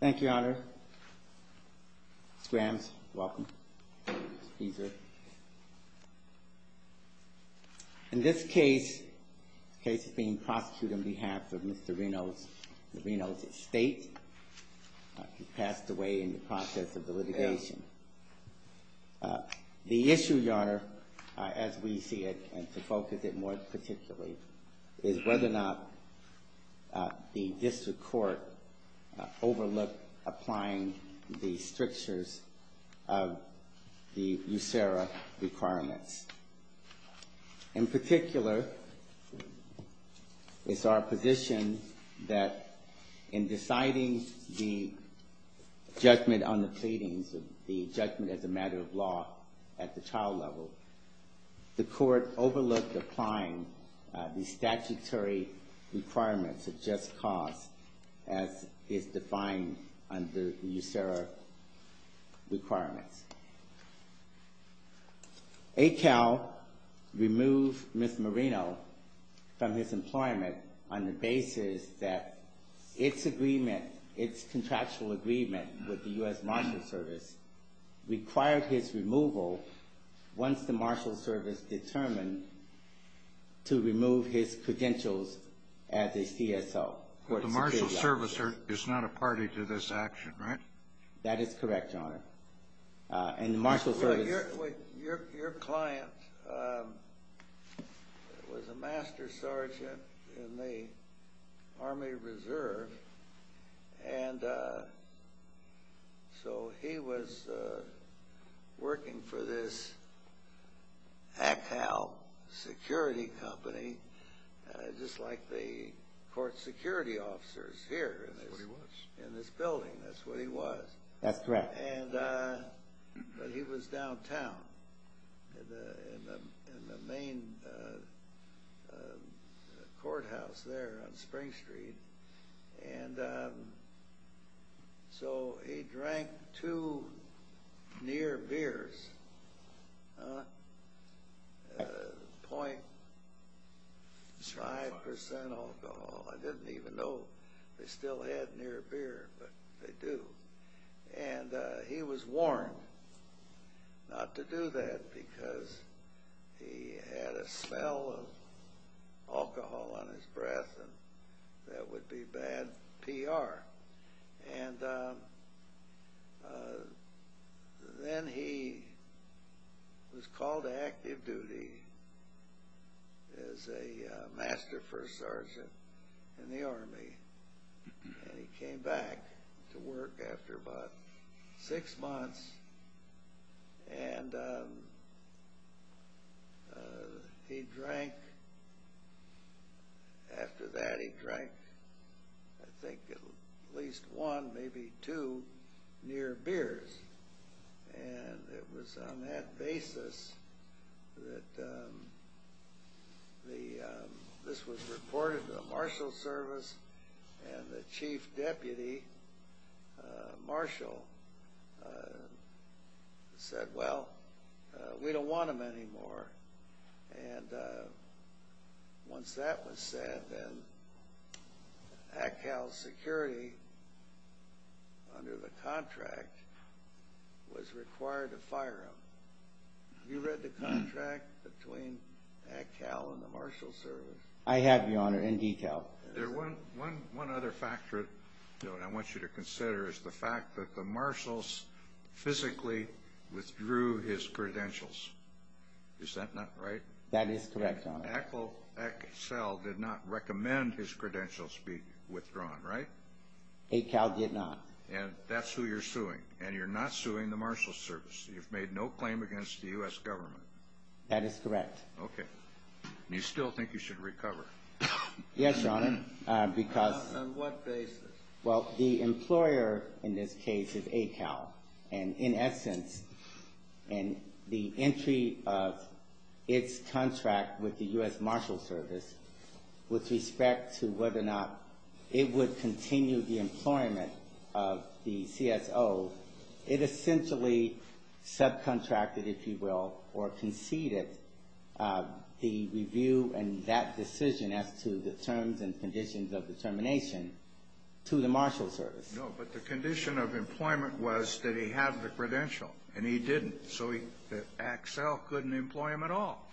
Thank you, Your Honor. Mr. Grams, welcome. In this case, the case is being prosecuted on behalf of Mr. Rino's estate. He passed away in the process of the litigation. The issue, Your Honor, as we see it, and to focus it more particularly, is whether or not the district court overlooked applying the strictures of the USERRA requirements. In particular, it's our position that in deciding the judgment on the pleadings, the judgment as a matter of law at the trial level, the court overlooked applying the statutory requirements of just cause as is defined under USERRA requirements. Akal removed Mr. Marino from his employment on the basis that its agreement, its contractual agreement with the U.S. Marshals Service required his removal once the Marshals Service determined to remove his credentials as a CSO. The Marshals Service is not a party to this action, right? That is correct, Your Honor. Your client was a Master Sergeant in the Army Reserve, so he was working for this Akal Security Company, just like the court security officers here in this building. That's what he was. That's correct. But he was downtown in the main courthouse there on Spring Street, and so he drank two near beers, 0.5% alcohol. I didn't even know they still had near beer, but they do. And he was warned not to do that because he had a smell of alcohol on his breath, and that would be bad PR. And then he was called to active duty as a Master First Sergeant in the Army, and he came back to work after about six months. And he drank, after that he drank, I think at least one, maybe two near beers. And it was on that basis that this was reported to the Marshals Service, and the Chief Deputy Marshal said, well, we don't want him anymore. And once that was said, then Akal Security, under the contract, was required to fire him. Have you read the contract between Akal and the Marshals Service? I have, Your Honor, in detail. One other factor I want you to consider is the fact that the Marshals physically withdrew his credentials. Is that not right? That is correct, Your Honor. Akal Excel did not recommend his credentials be withdrawn, right? Akal did not. And that's who you're suing, and you're not suing the Marshals Service. You've made no claim against the U.S. government. That is correct. Okay. And you still think you should recover? Yes, Your Honor, because... On what basis? Well, the employer in this case is Akal. And in essence, in the entry of its contract with the U.S. Marshals Service, with respect to whether or not it would continue the employment of the CSO, it essentially subcontracted, if you will, or conceded the review and that decision as to the terms and conditions of determination to the Marshals Service. No, but the condition of employment was that he had the credential, and he didn't. So Akal couldn't employ him at all,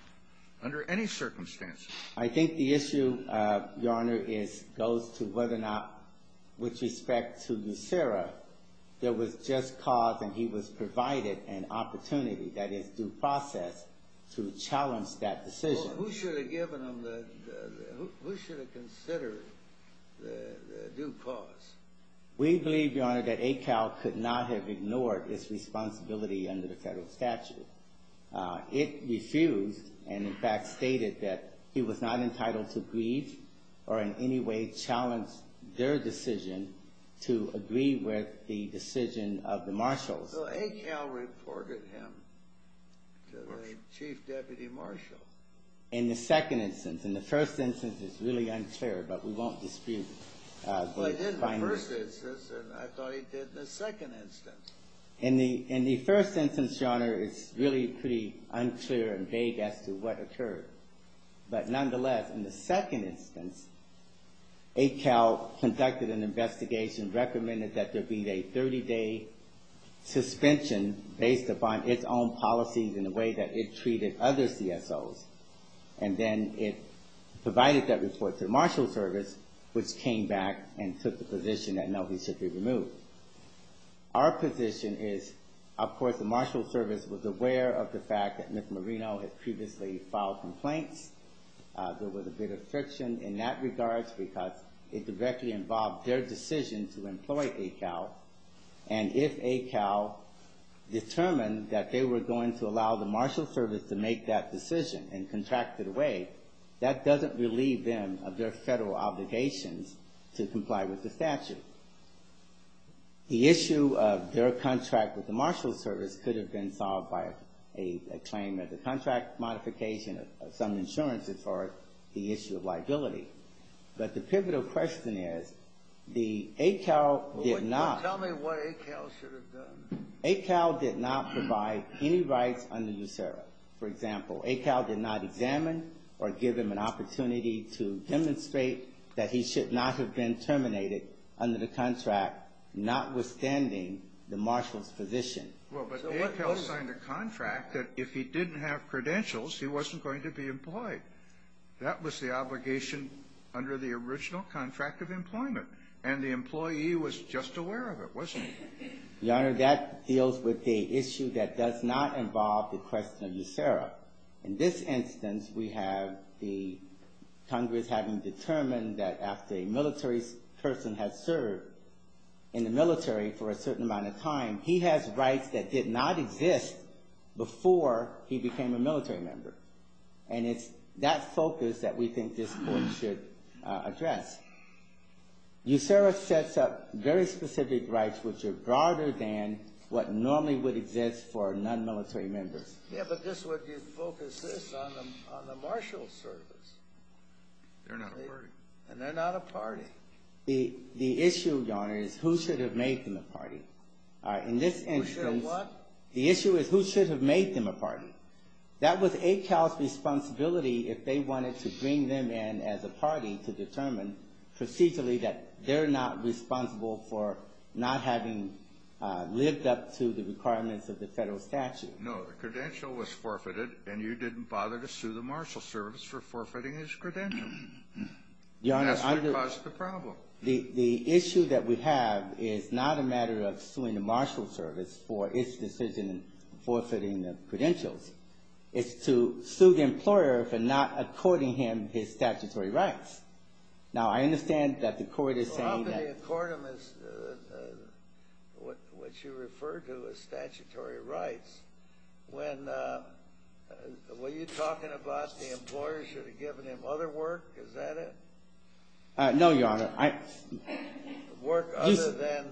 under any circumstances. I think the issue, Your Honor, goes to whether or not, with respect to Lucera, there was just cause and he was provided an opportunity, that is, due process, to challenge that decision. Well, who should have given him the... Who should have considered the due cause? We believe, Your Honor, that Akal could not have ignored his responsibility under the federal statute. It refused and, in fact, stated that he was not entitled to grieve or in any way challenge their decision to agree with the decision of the marshals. So Akal reported him to the chief deputy marshal. In the second instance. In the first instance, it's really unclear, but we won't dispute... Well, he did in the first instance, and I thought he did in the second instance. In the first instance, Your Honor, it's really pretty unclear and vague as to what occurred. But nonetheless, in the second instance, Akal conducted an investigation, recommended that there be a 30-day suspension based upon its own policies and the way that it treated other CSOs. And then it provided that report to the marshal service, which came back and took the position that Melvin should be removed. Our position is, of course, the marshal service was aware of the fact that Ms. Marino had previously filed complaints. There was a bit of friction in that regard because it directly involved their decision to employ Akal. And if Akal determined that they were going to allow the marshal service to make that decision and contract it away, that doesn't relieve them of their federal obligations to comply with the statute. The issue of their contract with the marshal service could have been solved by a claim of the contract modification of some insurance as far as the issue of liability. But the pivotal question is, the Akal did not... Well, tell me what Akal should have done. Akal did not provide any rights under USERRA. For example, Akal did not examine or give him an opportunity to demonstrate that he should not have been terminated under the contract, notwithstanding the marshal's position. Well, but Akal signed a contract that if he didn't have credentials, he wasn't going to be employed. That was the obligation under the original contract of employment. And the employee was just aware of it, wasn't he? Your Honor, that deals with the issue that does not involve the question of USERRA. In this instance, we have the Congress having determined that after a military person has served in the military for a certain amount of time, he has rights that did not exist before he became a military member. And it's that focus that we think this Court should address. USERRA sets up very specific rights which are broader than what normally would exist for non-military members. Yeah, but this would focus this on the marshal's service. They're not a party. And they're not a party. The issue, Your Honor, is who should have made them a party. Who should have what? The issue is who should have made them a party. That was Akal's responsibility if they wanted to bring them in as a party to determine procedurally that they're not responsible for not having lived up to the requirements of the federal statute. No, the credential was forfeited, and you didn't bother to sue the marshal's service for forfeiting his credential. That's what caused the problem. The issue that we have is not a matter of suing the marshal's service for its decision in forfeiting the credentials. It's to sue the employer for not according him his statutory rights. Now, I understand that the Court is saying that not to accord him what you refer to as statutory rights. Were you talking about the employer should have given him other work? Is that it? No, Your Honor. Work other than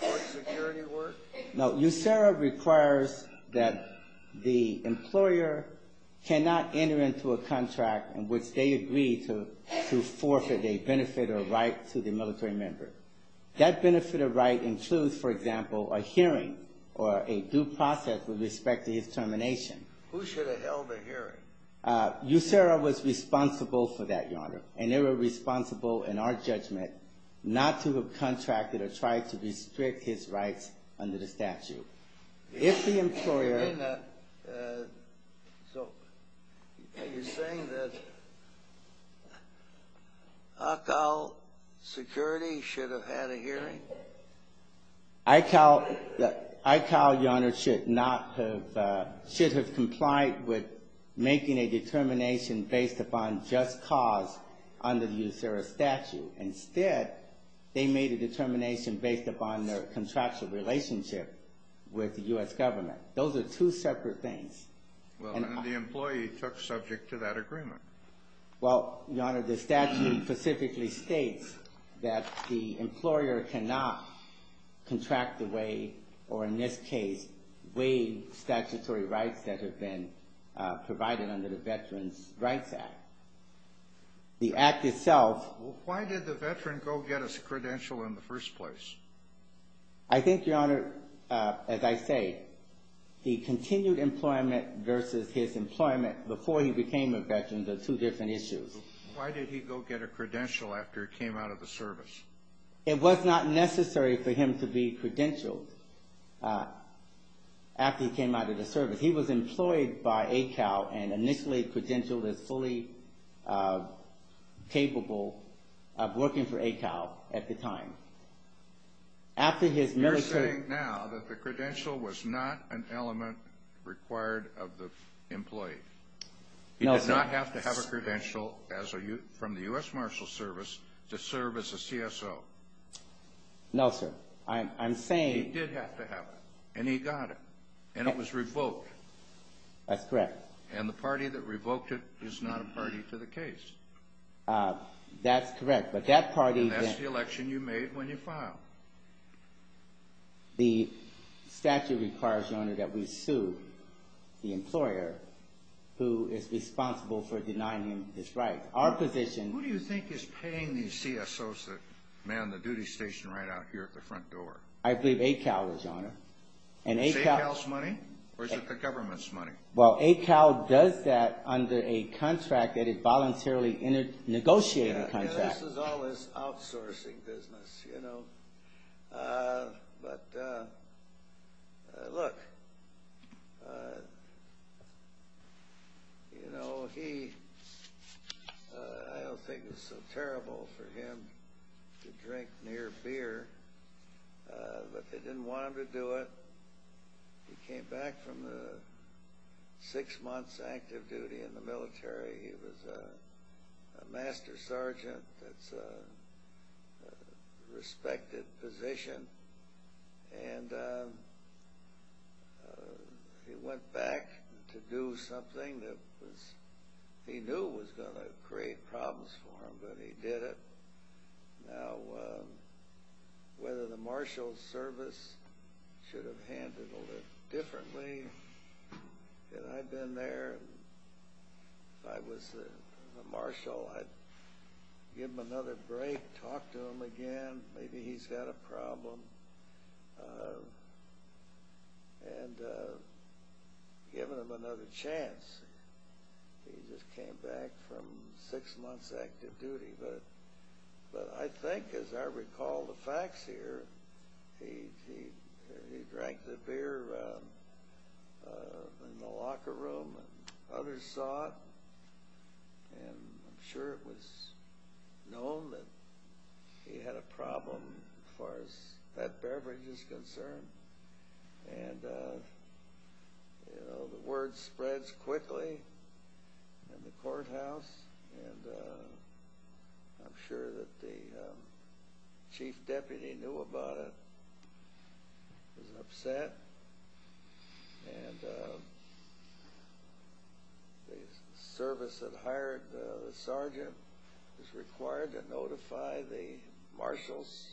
court security work? No, USERRA requires that the employer cannot enter into a contract in which they agree to forfeit a benefit or right to the military member. That benefit or right includes, for example, a hearing or a due process with respect to his termination. Who should have held a hearing? USERRA was responsible for that, Your Honor, and they were responsible in our judgment not to have contracted or tried to restrict his rights under the statute. If the employer... So you're saying that ICAL security should have had a hearing? ICAL, Your Honor, should not have, should have complied with making a determination based upon just cause under the USERRA statute. Instead, they made a determination based upon their contractual relationship with the US government. Those are two separate things. Well, and the employee took subject to that agreement. Well, Your Honor, the statute specifically states that the employer cannot contract the way, or in this case, waive statutory rights that have been provided under the Veterans Rights Act. The act itself... Well, why did the veteran go get a credential in the first place? I think, Your Honor, as I say, he continued employment versus his employment before he became a veteran. They're two different issues. Why did he go get a credential after he came out of the service? It was not necessary for him to be credentialed after he came out of the service. He was employed by ICAL and initially credentialed as fully capable of working for ICAL at the time. After his military... You're saying now that the credential was not an element required of the employee? No, sir. He did not have to have a credential from the U.S. Marshal Service to serve as a CSO? No, sir. I'm saying... And he got it, and it was revoked. That's correct. And the party that revoked it is not a party to the case. That's correct, but that party... And that's the election you made when you filed. The statute requires, Your Honor, that we sue the employer who is responsible for denying him his rights. Our position... Who do you think is paying these CSOs that man the duty station right out here at the front door? I believe ICAL is, Your Honor. Is it ICAL's money, or is it the government's money? Well, ICAL does that under a contract that is voluntarily negotiated contract. This is all his outsourcing business, you know. But, look, you know, he... I don't think it's so terrible for him to drink near beer, but they didn't want him to do it. He came back from the six months active duty in the military. He was a master sergeant. That's a respected position. And he went back to do something that he knew was going to create problems for him, but he did it. Now, whether the marshal's service should have handled it differently, had I been there, if I was the marshal, I'd give him another break, talk to him again, maybe he's got a problem, and given him another chance. He just came back from six months active duty. But I think, as I recall the facts here, he drank the beer in the locker room and others saw it. And I'm sure it was known that he had a problem as far as that beverage is concerned. And, you know, the word spreads quickly in the courthouse, and I'm sure that the chief deputy knew about it, was upset. And the service that hired the sergeant was required to notify the marshal's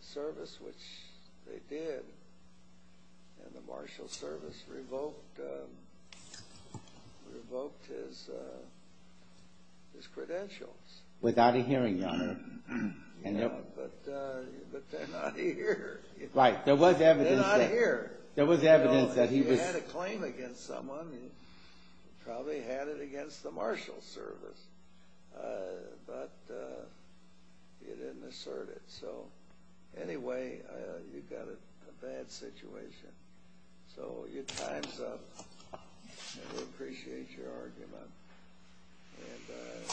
service, which they did. And the marshal's service revoked his credentials. Without a hearing, your honor. But they're not here. Right, there was evidence that he was... If he had a claim against someone, he probably had it against the marshal's service. But he didn't assert it. So, anyway, you've got a bad situation. So your time's up. And we appreciate your argument. And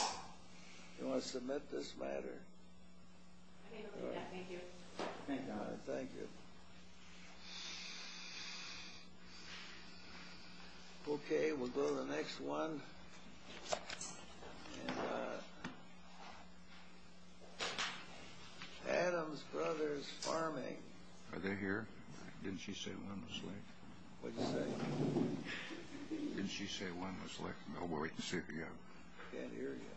you want to submit this matter? I can do that, thank you. Thank you, your honor. Thank you. Okay, we'll go to the next one. And Adam's Brothers Farming. Are they here? Didn't she say one was left? What'd you say? Didn't she say one was left? I'll wait and see if you have them. I can't hear you.